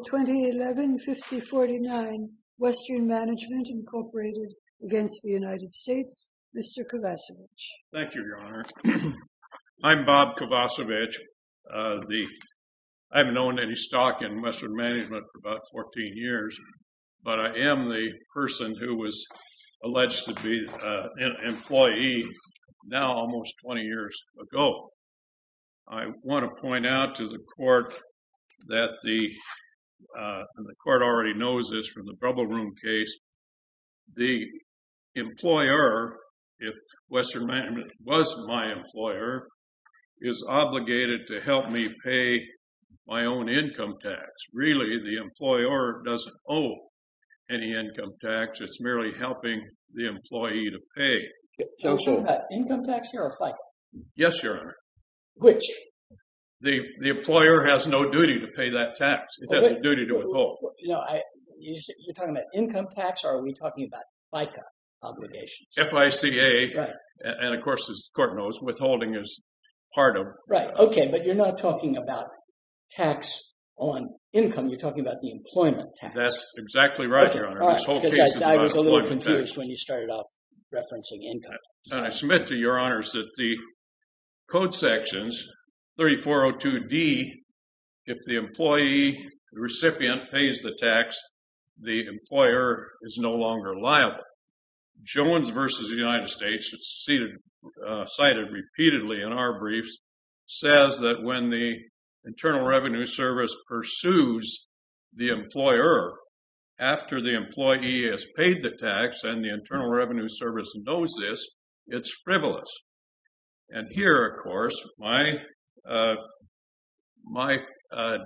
2011-5049 Western Management Incorporated against the United States, Mr. Kovacevich. Thank you, Your Honor. I'm Bob Kovacevich. I haven't known any stock in Western Management for about 14 years, but I am the person who was alleged to be an employee now almost 20 years ago. I want to point out to the court that the court already knows this from the Brubble Room case. The employer, if Western Management was my employer, is obligated to help me pay my own income tax. Really, the employer doesn't owe any income tax. It's merely helping the employee to pay it. Are we talking about income tax here or FICA? Yes, Your Honor. Which? The employer has no duty to pay that tax. It has a duty to withhold. You're talking about income tax, or are we talking about FICA obligations? FICA, and of course, as the court knows, withholding is part of... Right. Okay. But you're not talking about tax on income. You're talking about the employment tax. That's exactly right, Your Honor. This whole case is about employment tax. I submit to Your Honors that the code sections 3402D, if the employee, the recipient, pays the tax, the employer is no longer liable. Jones v. United States, it's cited repeatedly in our briefs, says that when the Internal Revenue Service pursues the employer after the employee has paid the tax, and the Internal Revenue Service knows this, it's frivolous. And here, of course, my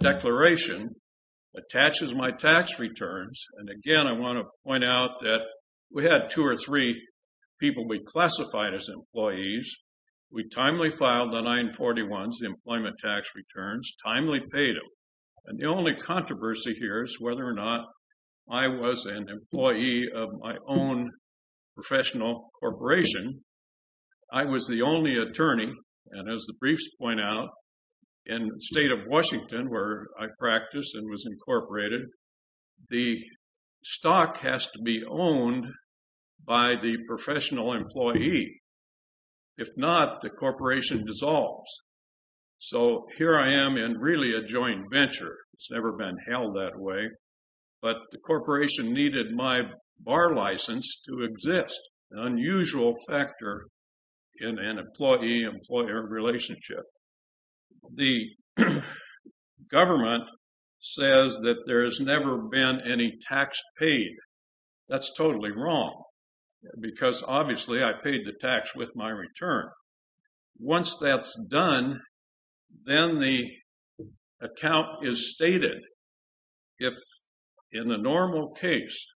declaration attaches my tax returns. And again, I want to point out that we had two or three people we classified as employees. We timely filed the 941s, the employment tax returns, timely paid them. And the only controversy here is whether or not I was an employee of my own professional corporation. I was the only attorney. And as the briefs point out, in the state of Washington, where I practiced and was incorporated, the stock has to be owned by the professional employee. If not, the corporation dissolves. So here I am in really a joint venture. It's never been held that way. But the corporation needed my bar license to exist, an unusual factor in an employee-employer relationship. The government says that there has never been any tax paid. That's totally wrong, because obviously I paid the tax with my return. Once that's done, then the account is stated. If in the normal case,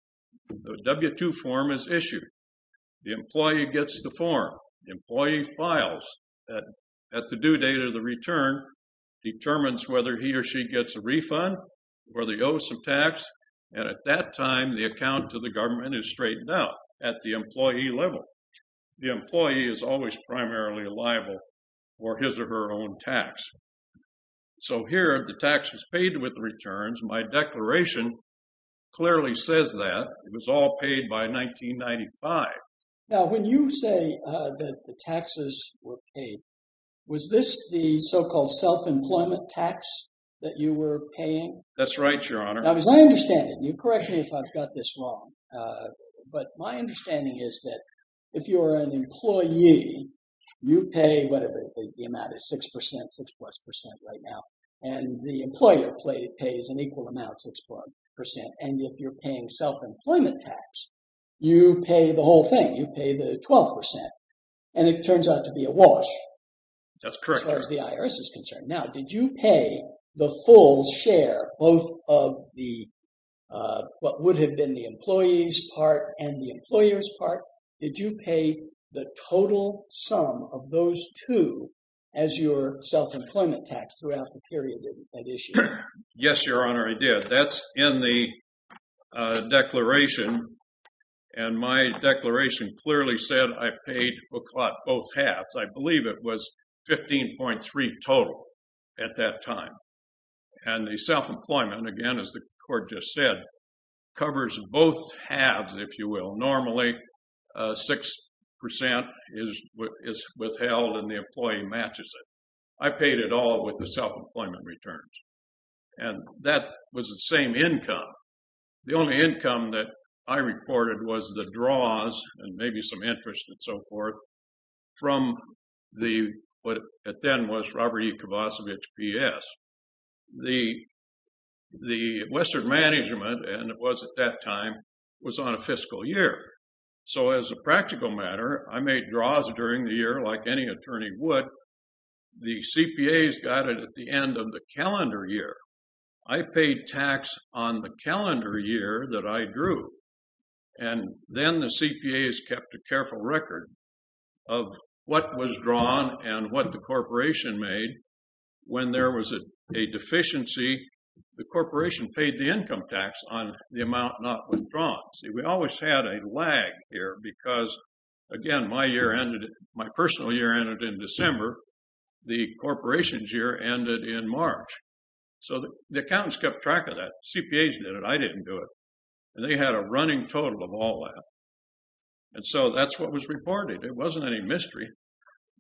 the W-2 form is issued. The employee gets the form. The employee files that at the due date of the return, determines whether he or she gets a refund, whether he owes some tax. And at that time, the account to the government is straightened out at the employee level. The employee is always primarily liable for his or her own tax. So here, the tax is paid with returns. My declaration clearly says that. It was all paid by 1995. Now, when you say that the taxes were paid, was this the so-called self-employment tax that you were paying? That's right, Your Honor. Now, as I understand it, and you correct me if I've got this wrong, but my understanding is that if you're an employee, you pay whatever the amount is, 6%, 6-plus percent right now. And the employer pays an equal amount, 6-plus percent. And if you're paying self-employment tax, you pay the whole thing. You pay the 12%. And it turns out to be a wash. That's correct. As far as the IRS is concerned. Now, did you pay the full share, both of the, what would have been the employee's part and the employer's part? Did you pay the total sum of those two as your self-employment tax throughout the period of that issue? Yes, Your Honor, I did. That's in the declaration. And my declaration clearly said I paid, we'll plot both halves. I believe it was 15.3 total at that time. And the self-employment, again, as the court just said, covers both halves, if you will. Normally, 6% is withheld and the employee matches it. I paid it all with the self-employment returns. And that was the same from the, what at then was Robert E. Kovacevich PS. The Western Management, and it was at that time, was on a fiscal year. So as a practical matter, I made draws during the year like any attorney would. The CPAs got it at the end of the calendar year. I paid tax on the calendar year that I drew. And then the CPAs kept a careful record of what was drawn and what the corporation made. When there was a deficiency, the corporation paid the income tax on the amount not withdrawn. See, we always had a lag here because, again, my year ended, my personal year ended in December. The corporation's year ended in March. So the accountants kept track of that. CPAs did it. I didn't do it. And they had a running total of all that. And so that's what was reported. It wasn't any mystery.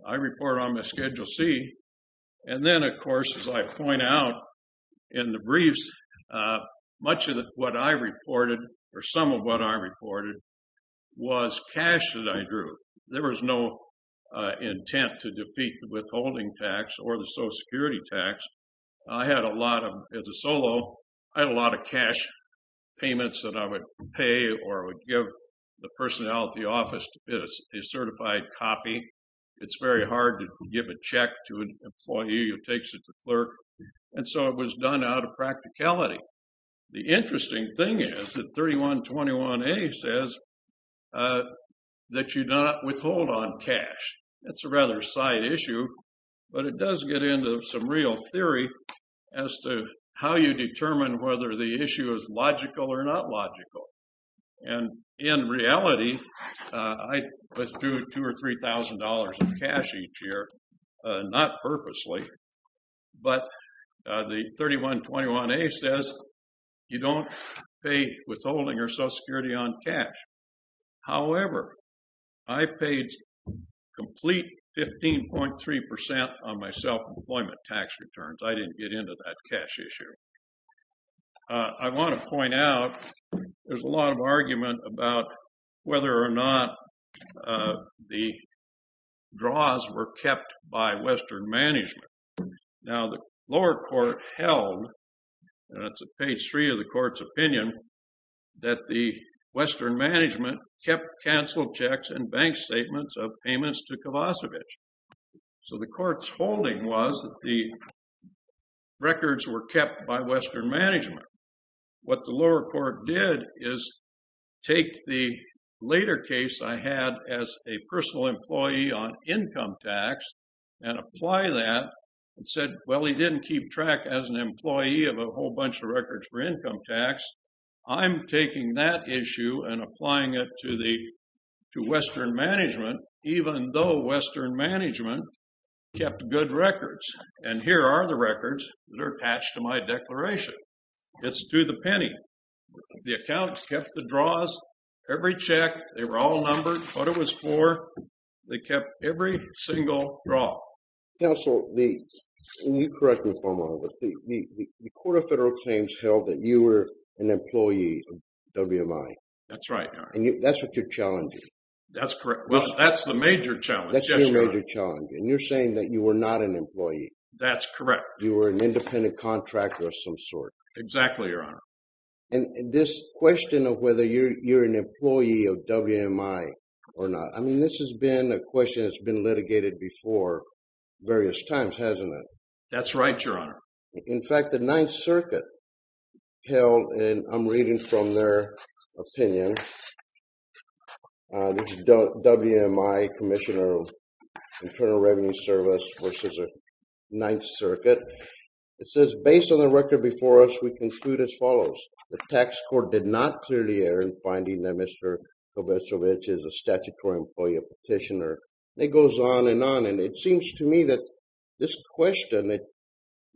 I report on my Schedule C. And then, of course, as I point out in the briefs, much of what I reported, or some of what I reported, was cash that I drew. There was no intent to defeat the withholding tax or the Social Security tax. I had a lot of, as a solo, I had a lot of cash payments that I would pay or would give the personnel at the office to get a certified copy. It's very hard to give a check to an employee who takes it to the clerk. And so it was done out of practicality. The interesting thing is that 3121A says that you do not withhold on cash. That's a rather side issue, but it does get into some real theory as to how you determine whether the issue is logical or not logical. And in reality, I was due two or three thousand dollars in cash each year, not purposely. But the 3121A says you don't pay withholding or Social Security on cash. However, I paid complete 15.3 percent on my self-employment tax returns. I didn't get into that cash issue. I want to point out there's a lot of argument about whether or not the draws were kept by Western management. Now, the lower court held, and that's at page three of the court's opinion, that the Western management kept canceled checks and bank statements of payments to Kovacevic. So the court's holding was that the records were kept by Western management. What the lower court did is take the later case I had as a personal employee on income tax and apply that and said, well, he didn't keep track as an employee of a whole bunch of records for income tax. I'm taking that issue and applying it to the to Western management, even though Western management kept good records. And here are the records that are attached to my declaration. It's to the penny. The account kept the draws. Every check, they were all numbered what it was for. They kept every single draw. Counsel, can you correct me for a moment? The Court of Federal Claims held that you were an employee of WMI. That's right, Your Honor. And that's what you're challenging. That's correct. Well, that's the major challenge. That's the major challenge. And you're saying that you were not an employee. That's correct. You were an independent contractor of some sort. Exactly, Your Honor. And this question of whether you're an employee of WMI or not, I mean, this has been a question that's been litigated before various times, hasn't it? That's right, Your Honor. In fact, the Ninth Circuit held, and I'm reading from their opinion. This is WMI, Commissioner of Internal Revenue Service versus the Ninth Circuit. It says, based on the record before us, we conclude as follows. The tax court did not clearly in finding that Mr. Kovacevic is a statutory employee of Petitioner. It goes on and on. And it seems to me that this question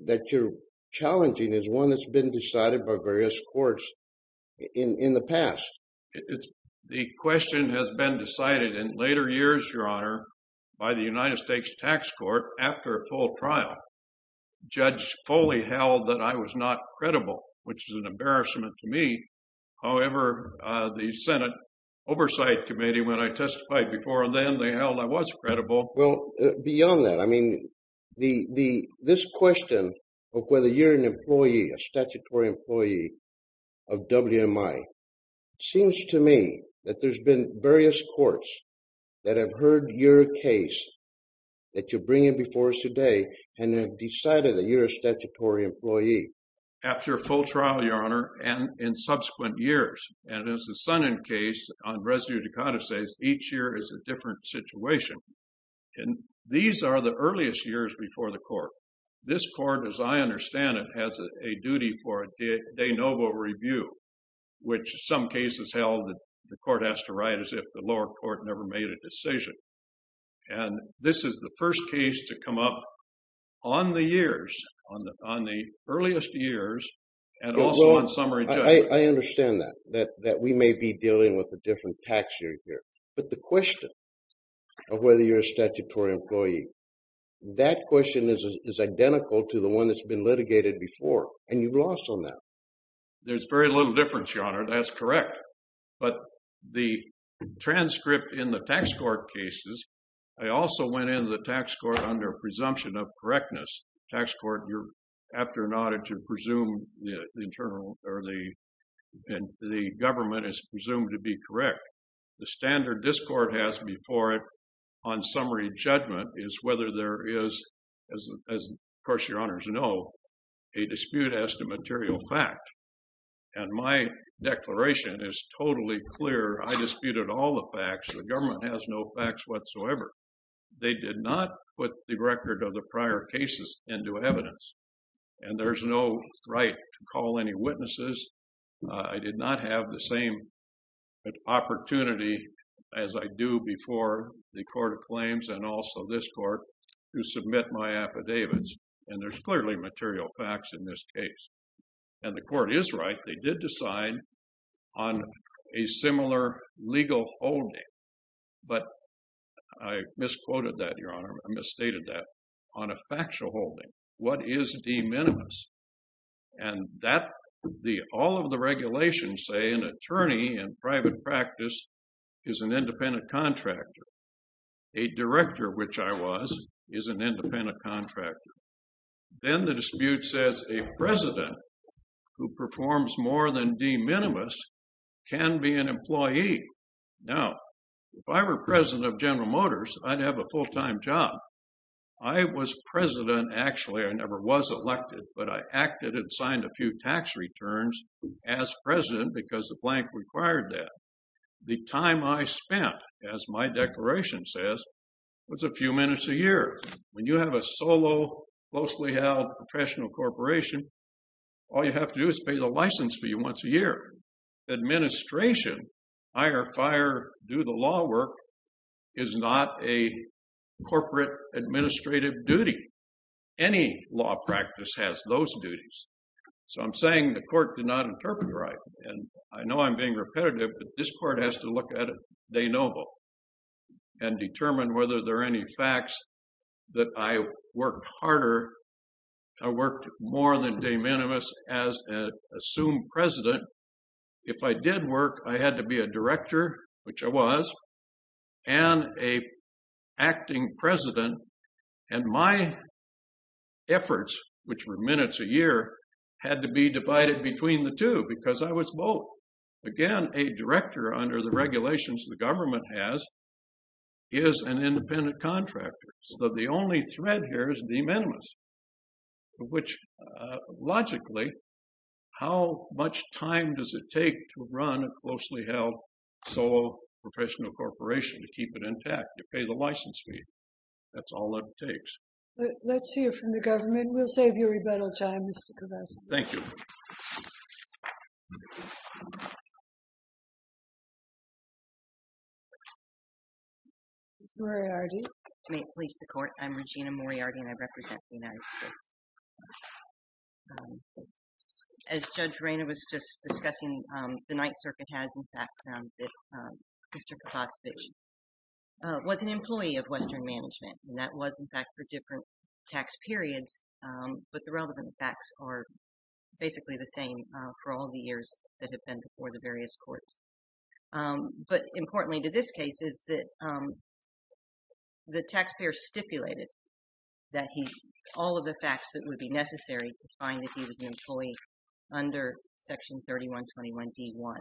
that you're challenging is one that's been decided by various courts in the past. The question has been decided in later years, Your Honor, by the United States Tax Court after a full trial. Judge Foley held that I was not credible, which is an embarrassment to me. However, the Senate Oversight Committee, when I testified before them, they held I was credible. Well, beyond that, I mean, this question of whether you're an employee, a statutory employee of WMI, seems to me that there's been various courts that have heard your case that you're bringing before us today and have decided that you're a statutory employee. After a full trial, Your Honor, and in subsequent years, and as the Sonnen case on residue to condescends, each year is a different situation. And these are the earliest years before the court. This court, as I understand it, has a duty for a de novo review, which some cases held that the court has to write as if the lower court never made a decision. And this is the first case to come up on the years, on the earliest years, and also on summary judgment. I understand that, that we may be dealing with a different tax year here. But the question of whether you're a statutory employee, that question is identical to the one that's been litigated before. And you've lost on that. There's very little difference, Your Honor, that's correct. But the transcript in the tax court cases, I also went into the tax court under presumption of correctness. Tax court, you're after an audit to presume the internal or the and the government is presumed to be correct. The standard this court has before it on summary judgment is whether there is, as of course, Your Honors know, a dispute as to material fact. And my declaration is totally clear. I disputed all the facts. The government has no facts whatsoever. They did not put the record of the prior cases into evidence. And there's no right to call any witnesses. I did not have the same opportunity as I do before the court of claims and also this court to submit my affidavits. And there's clearly material facts in this case. And the court is right. They did decide on a similar legal holding. But I misquoted that, Your Honor. I misstated that on a factual holding. What is de minimis? And that the all of the regulations say an attorney in private practice is an independent contractor. A director, which I was, is an independent contractor. Then the dispute says a president who performs more than de minimis can be an employee. Now, if I were president of General Motors, I'd have a full-time job. I was president, actually. I never was elected, but I acted and signed a few tax returns as president because the blank required that. The time I spent, as my declaration says, was a few minutes a year. When you have a solo, closely held, professional corporation, all you have to do is pay the license fee once a year. Administration, hire, fire, do the law work, is not a corporate administrative duty. Any law practice has those duties. So I'm saying the court did not interpret right. And I know I'm being repetitive, but this court has to look at it and determine whether there are any facts that I worked harder. I worked more than de minimis as an assumed president. If I did work, I had to be a director, which I was, and an acting president. And my efforts, which were minutes a year, had to be divided between the two because I was both. Again, a director, under the regulations the government has, is an independent contractor. So the only thread here is de minimis, which, logically, how much time does it take to run a closely held, solo, professional corporation to keep it intact? You pay the license fee. That's all it takes. Let's hear from the government. We'll save you time. Ms. Moriarty. May it please the court, I'm Regina Moriarty, and I represent the United States. As Judge Reina was just discussing, the Ninth Circuit has, in fact, found that Mr. Kaposvich was an employee of Western Management. And that was, in fact, for different tax periods. But the relevant facts are basically the same for all the years that have been before the various courts. But importantly to this case is that the taxpayer stipulated that he, all of the facts that would be necessary to find that he was an employee under Section 3121 D1.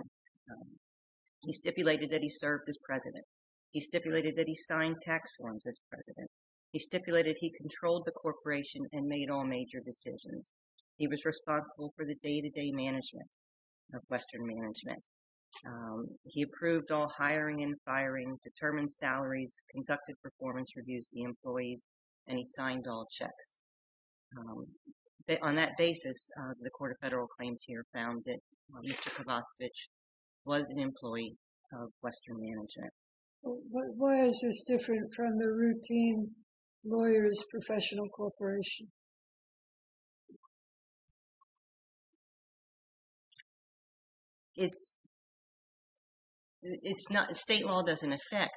He stipulated that he served as president. He stipulated that he signed tax forms as president. He stipulated he controlled the corporation and made all major decisions. He was responsible for the day-to-day management of Western Management. He approved all hiring and firing, determined salaries, conducted performance reviews of the employees, and he signed all checks. On that basis, the Court of Federal Claims here found that Mr. Kaposvich was an employee of Western Management. Why is this different from the routine lawyer's professional corporation? It's, it's not, state law doesn't affect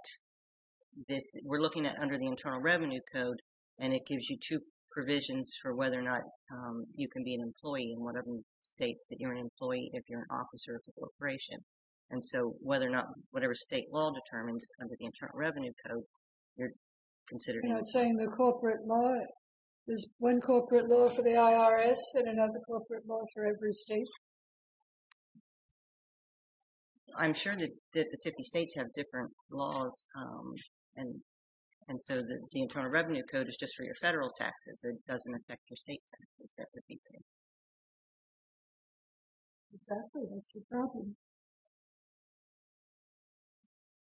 this. We're looking at under the Internal Revenue Code and it gives you two provisions for whether or not you can be an employee in whatever states that you're an employee if you're an officer of the corporation. And so whether or not, whatever state law determines under the Internal Revenue Code, you're considered... You're not saying the corporate law is one corporate law for the IRS and another corporate law for every state? I'm sure that the 50 states have different laws and, and so the Internal Revenue Code is just for your federal taxes. It doesn't affect your state taxes that would be paid. Exactly, that's the problem.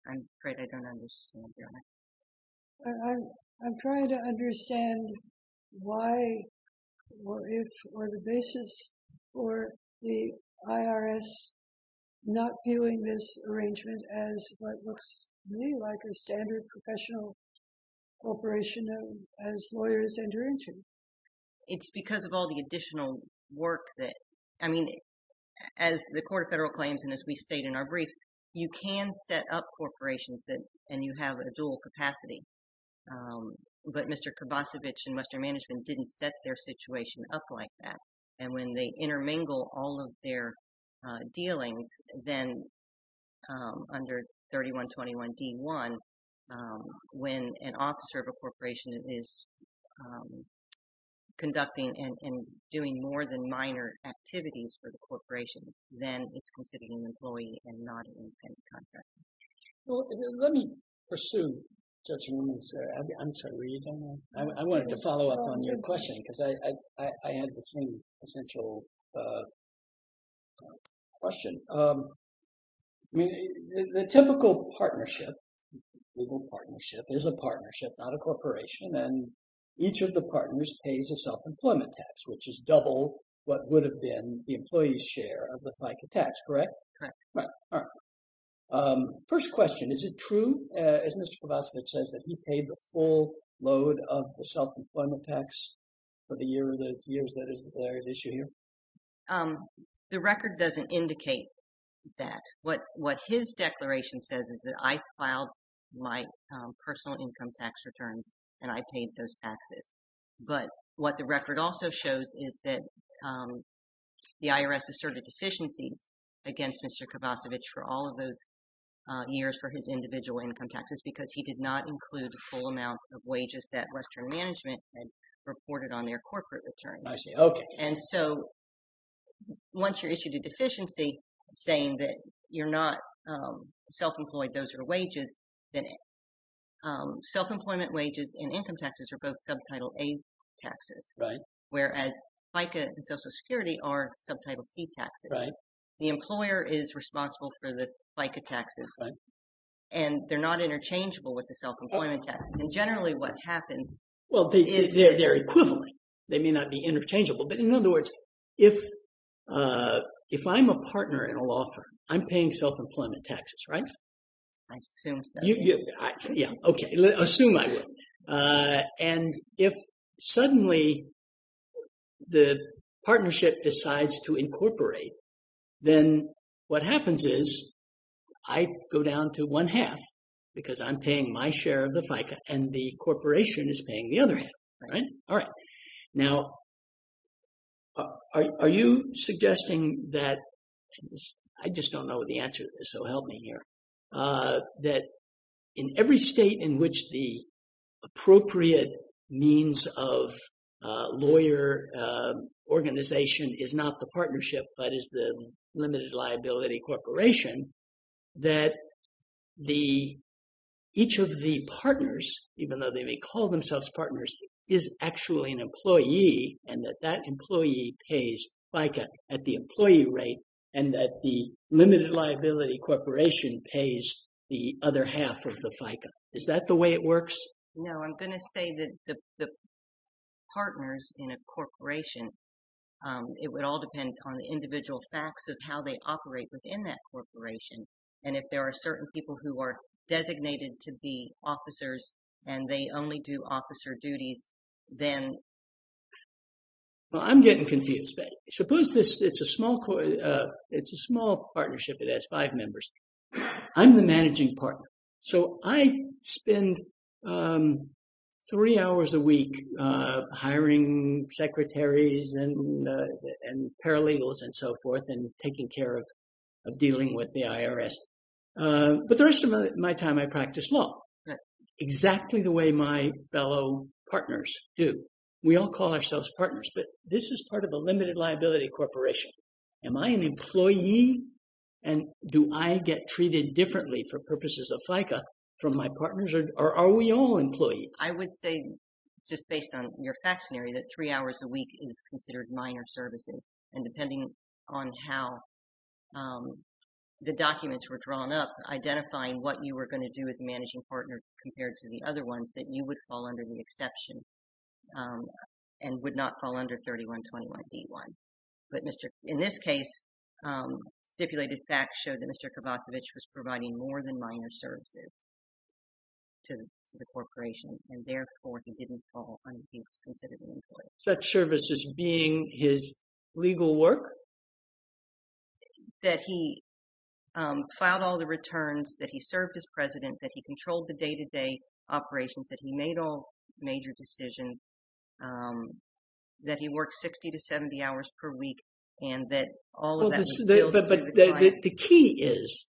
I'm afraid I don't understand. I'm trying to understand why, or if, or the basis for the IRS not viewing this arrangement as what looks to me like a standard professional corporation as lawyers enter into. It's because of all the additional work that, I mean, as the Court of Federal Claims and as we stated in our brief, you can set up corporations that, and you have a dual capacity. But Mr. Kurbacevich and Western Management didn't set their situation up like that. And when they intermingle all of their dealings, then under 3121 D1, when an officer of a corporation is conducting and doing more than minor activities for the corporation, then it's considered an employee and not an independent contractor. Well, let me pursue Judge Williams. I'm sorry, were you going to? I wanted to follow up on your question because I had the same essential question. I mean, the typical partnership, legal partnership, is a partnership, not a corporation, and each of the partners pays a self-employment tax, which is double what would have been the first question. Is it true, as Mr. Kurbacevich says, that he paid the full load of the self-employment tax for the years that is at issue here? The record doesn't indicate that. What his declaration says is that I filed my personal income tax returns and I paid those taxes. But what the record also shows is that the IRS asserted deficiencies against Mr. Kurbacevich for all of those years for his individual income taxes because he did not include the full amount of wages that Western Management had reported on their corporate returns. I see, okay. And so once you're issued a deficiency saying that you're not self-employed, those are wages, then self-employment wages and income taxes are both subtitle A taxes, whereas FICA and Social Security are subtitle C taxes. The employer is responsible for the FICA taxes, and they're not interchangeable with the self-employment taxes. And generally what happens is... Well, they're equivalent. They may not be interchangeable. But in other words, if I'm a partner in a law firm, I'm paying self-employment taxes, right? I assume so. Yeah, okay. Assume I would. And if suddenly the partnership decides to incorporate, then what happens is I go down to one half because I'm paying my share of the FICA and the corporation is paying the other half, right? All right. Now, are you suggesting that... I just don't know what the answer is, so help me here. That in every state in which the appropriate means of lawyer organization is not the partnership, but is the limited liability corporation, that each of the partners, even though they may call themselves partners, is actually an employee and that that employee pays FICA at the employee rate and that the limited liability corporation pays the other half of the FICA? Is that the way it works? No, I'm going to say that the partners in a corporation, it would all depend on the individual facts of how they operate within that corporation. And if there are certain people who are designated to be officers and they only do well, I'm getting confused. Suppose it's a small partnership that has five members. I'm the managing partner, so I spend three hours a week hiring secretaries and paralegals and so forth and taking care of dealing with the IRS. But the rest of my time, I practice law, exactly the way my fellow partners do. We all call ourselves partners, but this is part of a limited liability corporation. Am I an employee and do I get treated differently for purposes of FICA from my partners or are we all employees? I would say, just based on your facts scenario, that three hours a week is considered minor services. And depending on how the documents were drawn up, identifying what you were going to do as a managing partner compared to the other ones, that you would fall under the exception and would not fall under 3121D1. But in this case, stipulated facts showed that Mr. Kravacevich was providing more than minor services to the corporation and therefore he didn't fall under 3121D1. He was considered an employee. Such services being his legal work? That he filed all the returns, that he served as president, that he controlled the day-to-day operations, that he made all major decisions, that he worked 60 to 70 hours per week, and that all of that was billed by the client. But the key is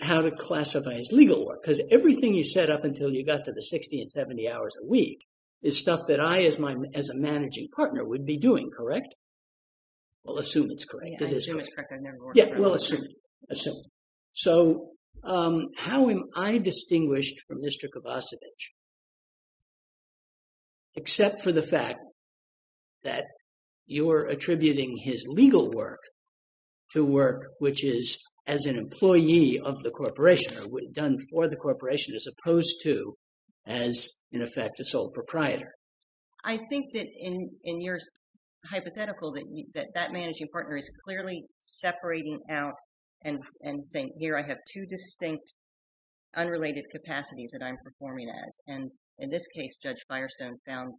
how to classify his legal work, because everything you set up until you got to the 60 and 70 hours a week is stuff that I, as a managing partner, would be doing, correct? We'll assume it's correct. Yeah, I assume it's correct. I've never worked for him. Yeah, we'll assume it. So, how am I distinguished from Mr. Kravacevich? Except for the fact that you're attributing his legal work to work which is as an employee of corporation or done for the corporation as opposed to as, in effect, a sole proprietor. I think that in your hypothetical that that managing partner is clearly separating out and saying, here I have two distinct unrelated capacities that I'm performing as. And in this case, Judge Firestone found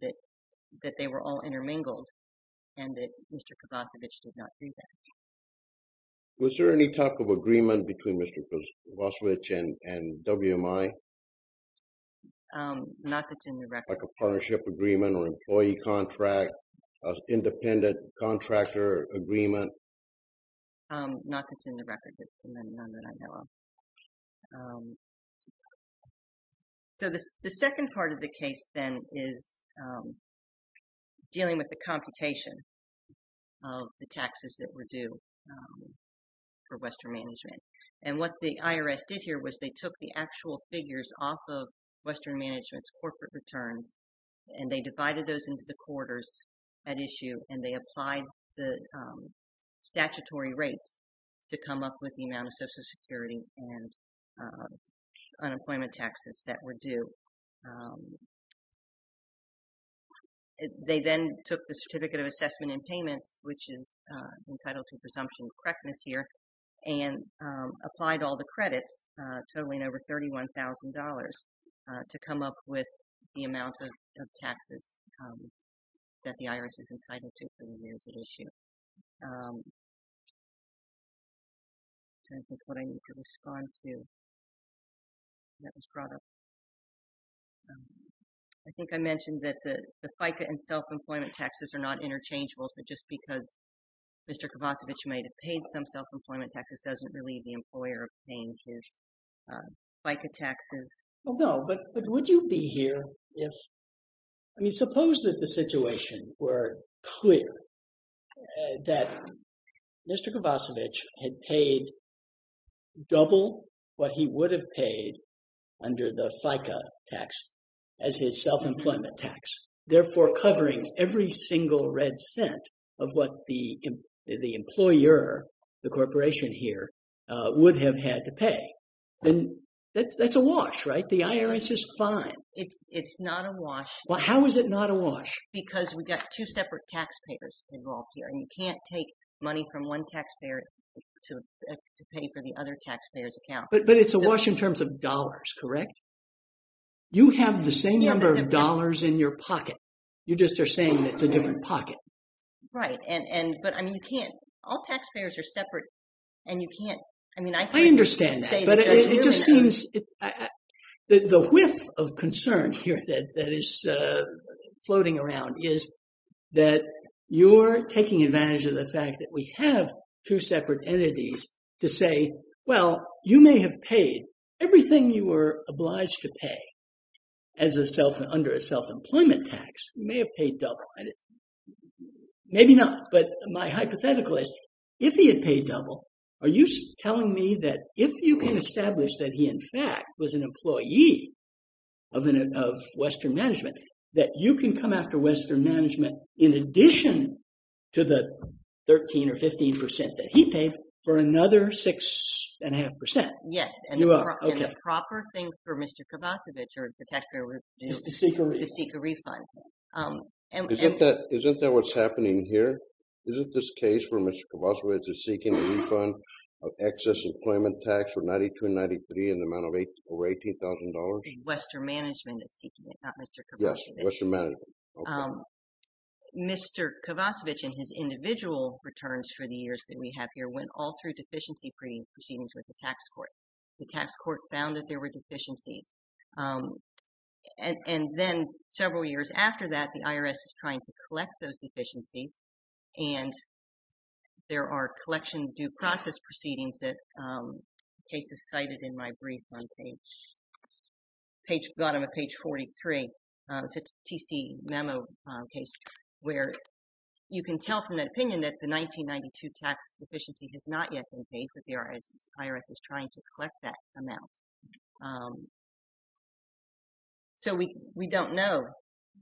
that they were all intermingled and that Mr. Kravacevich did not do that. Was there any type of agreement between Mr. Kravacevich and WMI? Not that's in the record. Like a partnership agreement or employee contract, independent contractor agreement? Not that's in the record. None that I know of. So, the second part of the case then is dealing with the computation of the taxes that were due for Western Management. And what the IRS did here was they took the actual figures off of Western Management's corporate returns and they divided those into the quarters at issue and they applied the statutory rates to come up with the amount of Social Security and unemployment taxes that were due. They then took the Certificate of Assessment and Payments, which is entitled to presumption correctness here, and applied all the credits totaling over $31,000 to come up with the amount of taxes that the IRS is entitled to for the years at issue. Trying to think what I need to respond to. That was brought up. I think I mentioned that the FICA and self-employment taxes are not interchangeable, so just because Mr. Kravacevich may have paid some self-employment taxes doesn't relieve the I mean, suppose that the situation were clear that Mr. Kravacevich had paid double what he would have paid under the FICA tax as his self-employment tax, therefore covering every single red cent of what the employer, the corporation here, would have had to pay. And that's a wash, right? The IRS is fine. It's not a wash. Well, how is it not a wash? Because we've got two separate taxpayers involved here and you can't take money from one taxpayer to pay for the other taxpayer's account. But it's a wash in terms of dollars, correct? You have the same number of dollars in your pocket. You just are saying it's a different pocket. Right. And, but I mean, you can't, all taxpayers are separate and you can't, I mean, I understand that, but it just seems that the whiff of concern here that is floating around is that you're taking advantage of the fact that we have two separate entities to say, well, you may have paid everything you were obliged to pay as a self, under a self-employment tax. You may have paid double. Maybe not, but my hypothetical is if he had paid double, are you telling me that if you can establish that he, in fact, was an employee of Western Management, that you can come after Western Management in addition to the 13 or 15 percent that he paid for another six and a half percent? Yes. And the proper thing for Mr. Kovacevic or the taxpayer is to seek a refund. Isn't that what's happening here? Isn't this case for Mr. Kovacevic a refund of excess employment tax for $92,000 and $93,000 in the amount of $18,000? Western Management is seeking it, not Mr. Kovacevic. Yes, Western Management. Mr. Kovacevic and his individual returns for the years that we have here went all through deficiency proceedings with the tax court. The tax court found that there were deficiencies. And then several years after that, the IRS is trying to collect those deficiencies and there are collection due process proceedings that the case is cited in my brief on page, page, bottom of page 43. It's a TC memo case where you can tell from that opinion that the 1992 tax deficiency has not yet been paid, but the IRS is trying to collect that amount. Um, so we, we don't know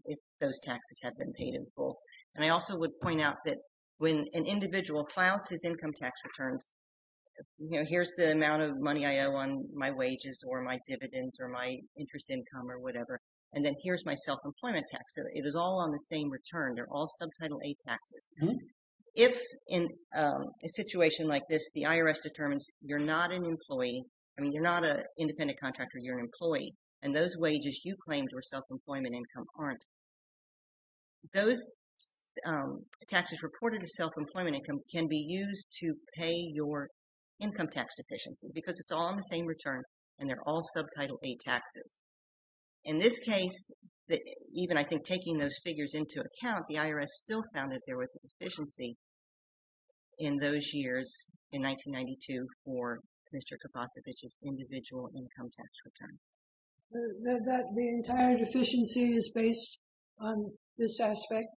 if those taxes have been paid in full. And I also would point out that when an individual files his income tax returns, you know, here's the amount of money I owe on my wages or my dividends or my interest income or whatever. And then here's my self-employment tax. So it is all on the same return. They're all subtitle A taxes. If in a situation like this, the IRS determines you're not an employee, I mean, you're not an independent contractor, you're an employee. And those wages you claimed were self-employment income aren't. Those taxes reported as self-employment income can be used to pay your income tax deficiency because it's all on the same return and they're all subtitle A taxes. In this case, even I think taking those figures into account, the IRS still found that there was a deficiency in those years in 1992 for Mr. Kaposevich's individual income tax return. That the entire deficiency is based on this aspect,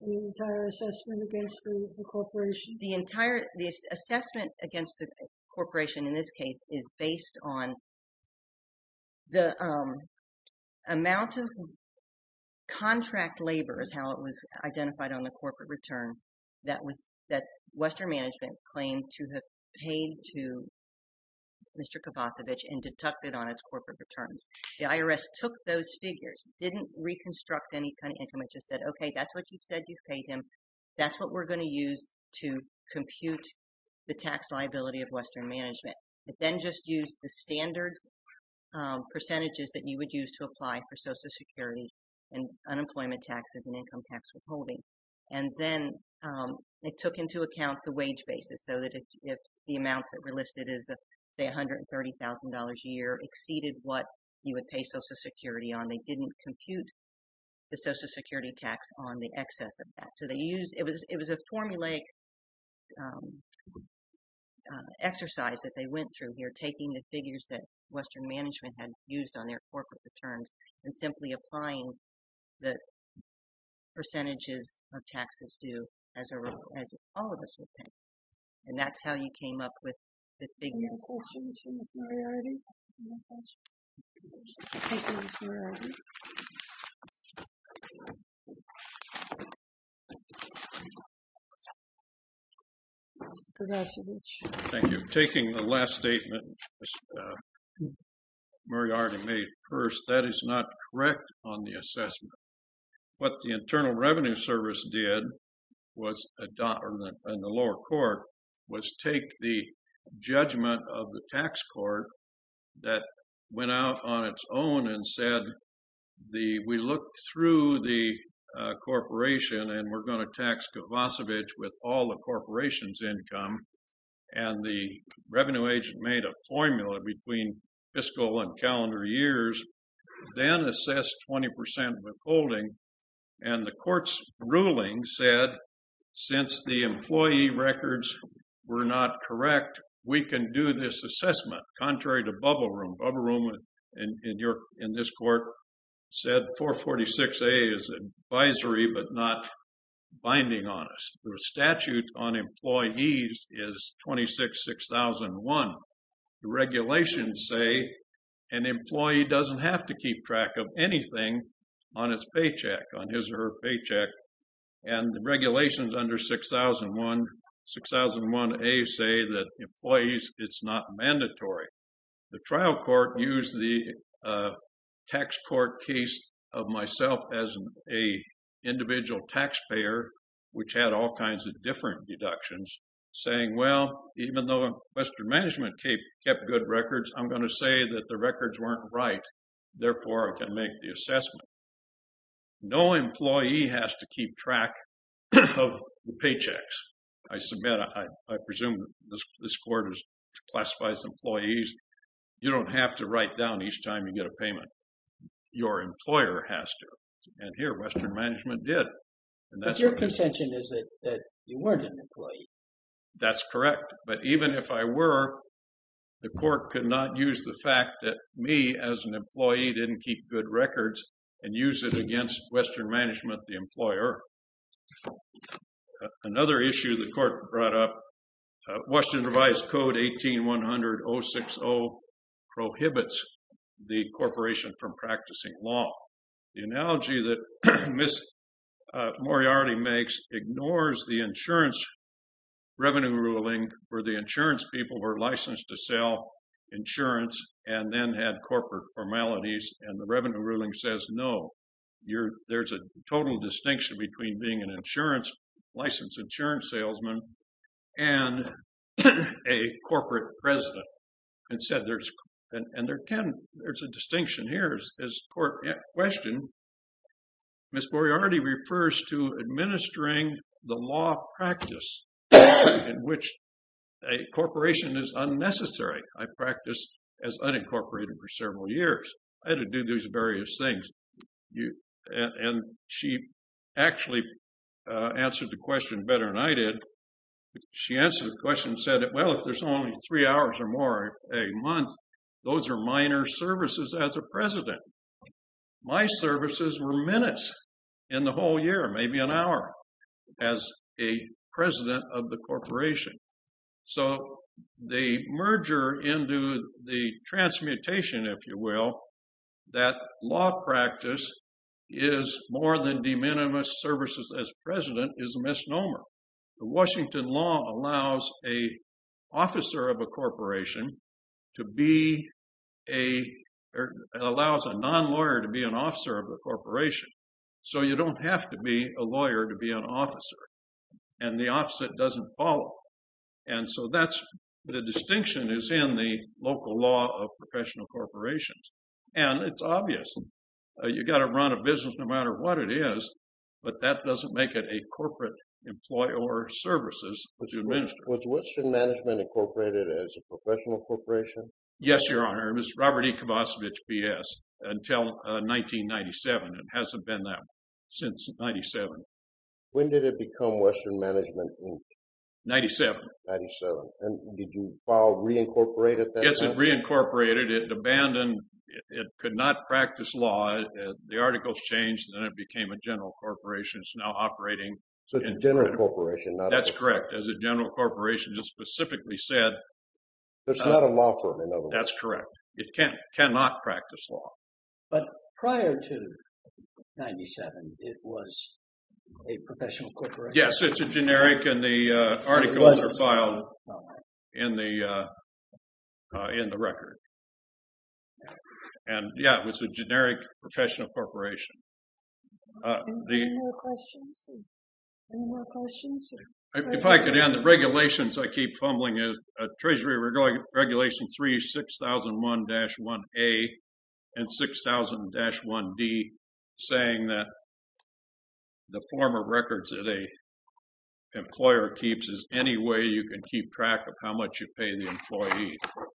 the entire assessment against the corporation? The entire assessment against the corporation in this case is based on the amount of contract labor is how it was identified on the corporate return. That Western Management claimed to have paid to Mr. Kaposevich and deducted on its corporate returns. The IRS took those figures, didn't reconstruct any kind of income. It just said, okay, that's what you've said you've paid him. That's what we're going to use to compute the tax liability of Western Management. It then just used the standard percentages that you would use to apply for social security and unemployment taxes and income tax withholding. Then it took into account the wage basis so that if the amounts that were listed as say $130,000 a year exceeded what you would pay social security on, they didn't compute the social security tax on the excess of that. It was a formulaic exercise that they went through here taking the figures that Western Management paid to Mr. Kaposevich and deducting on his corporate returns and simply applying the percentages of taxes due as all of us would pay. And that's how you came up with the figures. Any other questions for Ms. Moriarty? Mr. Kaposevich. Thank you. Taking the last statement Moriarty made first, that is not correct on the assessment. What the Internal Revenue Service did was adopt, in the lower court, was take the judgment of the tax court that went out on its own and said, we looked through the corporation and we're going to tax Kaposevich with all the corporation's income. And the revenue agent made a formula between fiscal and calendar years, then assessed 20% withholding. And the court's ruling said, since the employee records were not correct, we can do this assessment. Contrary to bubble room. Bubble room in this court said 446A is advisory but not binding on us. The statute on employees is 26-6001. The regulations say an employee doesn't have to keep track of anything on his or her paycheck. And the regulations under 6001A say that employees, it's not mandatory. The trial court used the tax court case of myself as an individual taxpayer, which had all kinds of different deductions, saying, well, even though Western Management kept good records, I'm going to say that the records weren't right. Therefore, I can make the assessment. No employee has to keep track of the paychecks. I submit, I presume this court is classified as employees. You don't have to write down each time you get a payment. Your employer has to. And here, Western Management did. But your contention is that you weren't an employee. That's correct. But even if I were, the court could not use the fact that me as an employee didn't keep good records and use it against Western Management, the employer. Another issue the court brought up, Western Revised Code 18-100-060 prohibits the corporation from practicing law. The analogy that Ms. Moriarty makes ignores the insurance revenue ruling where the insurance people were licensed to sell insurance and then had corporate formalities. And the revenue ruling says, no, there's a total distinction between being an insurance, licensed insurance salesman, and a corporate president. And there's a distinction here. As the court questioned, Ms. Moriarty refers to administering the law practice in which a corporation is unnecessary. I practiced as unincorporated for several years. I had to do these various things. And she actually answered the question better than I did. She answered the question and said, well, if there's only three hours or more a month, those are minor services as a president. My services were minutes in the whole year, maybe an hour as a president of the corporation. So the merger into the transmutation, if you will, that law practice is more than de minimis services as president is a misnomer. The Washington law allows a non-lawyer to be an officer of the corporation. So you don't have to be a lawyer to be an officer. And the opposite doesn't follow. And so that's the distinction is in the local law of professional corporations. And it's obvious, you've got to run a business no matter what it is, but that doesn't make it a corporate employer services to administer. Was which management incorporated as a professional corporation? Yes, your honor. It was Robert E. Kovacevich BS until 1997. It hasn't been that since 97. When did it become Western Management Inc? 97. 97. And did you file reincorporated? Yes, it reincorporated. It abandoned. It could not practice law. The articles changed and then it became a general corporation. It's now operating. So it's a general corporation. That's correct. As a general corporation, just specifically said, there's not a law firm. That's correct. It can't cannot practice law. But prior to 97, it was a professional corporation. Yes, it's a generic and the article was filed in the in the record. And yeah, it was a generic professional corporation. Any more questions? If I could end the regulations, I keep fumbling is a Treasury Regulation 3 6001-1A and 6000-1D saying that the form of records that a employer keeps is any way you can keep track of how much you pay the employee.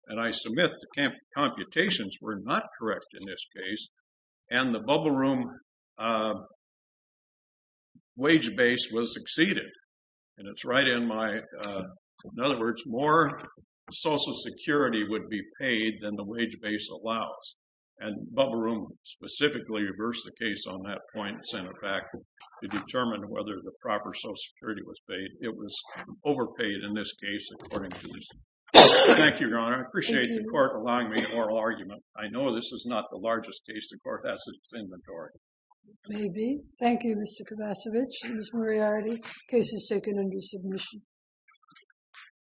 And I submit the computations were not correct in this case. And the bubble room wage base was exceeded. And it's right in my, in other words, more Social Security would be paid than the wage base allows. And bubble room specifically reversed the case on that point and sent it back to determine whether the proper Social Security was paid. It was overpaid in this case, according to this. Thank you, Your Honor. I appreciate the court oral argument. I know this is not the largest case the court has in its inventory. Maybe. Thank you, Mr. Kovacevich, Ms. Moriarty. Case is taken under submission.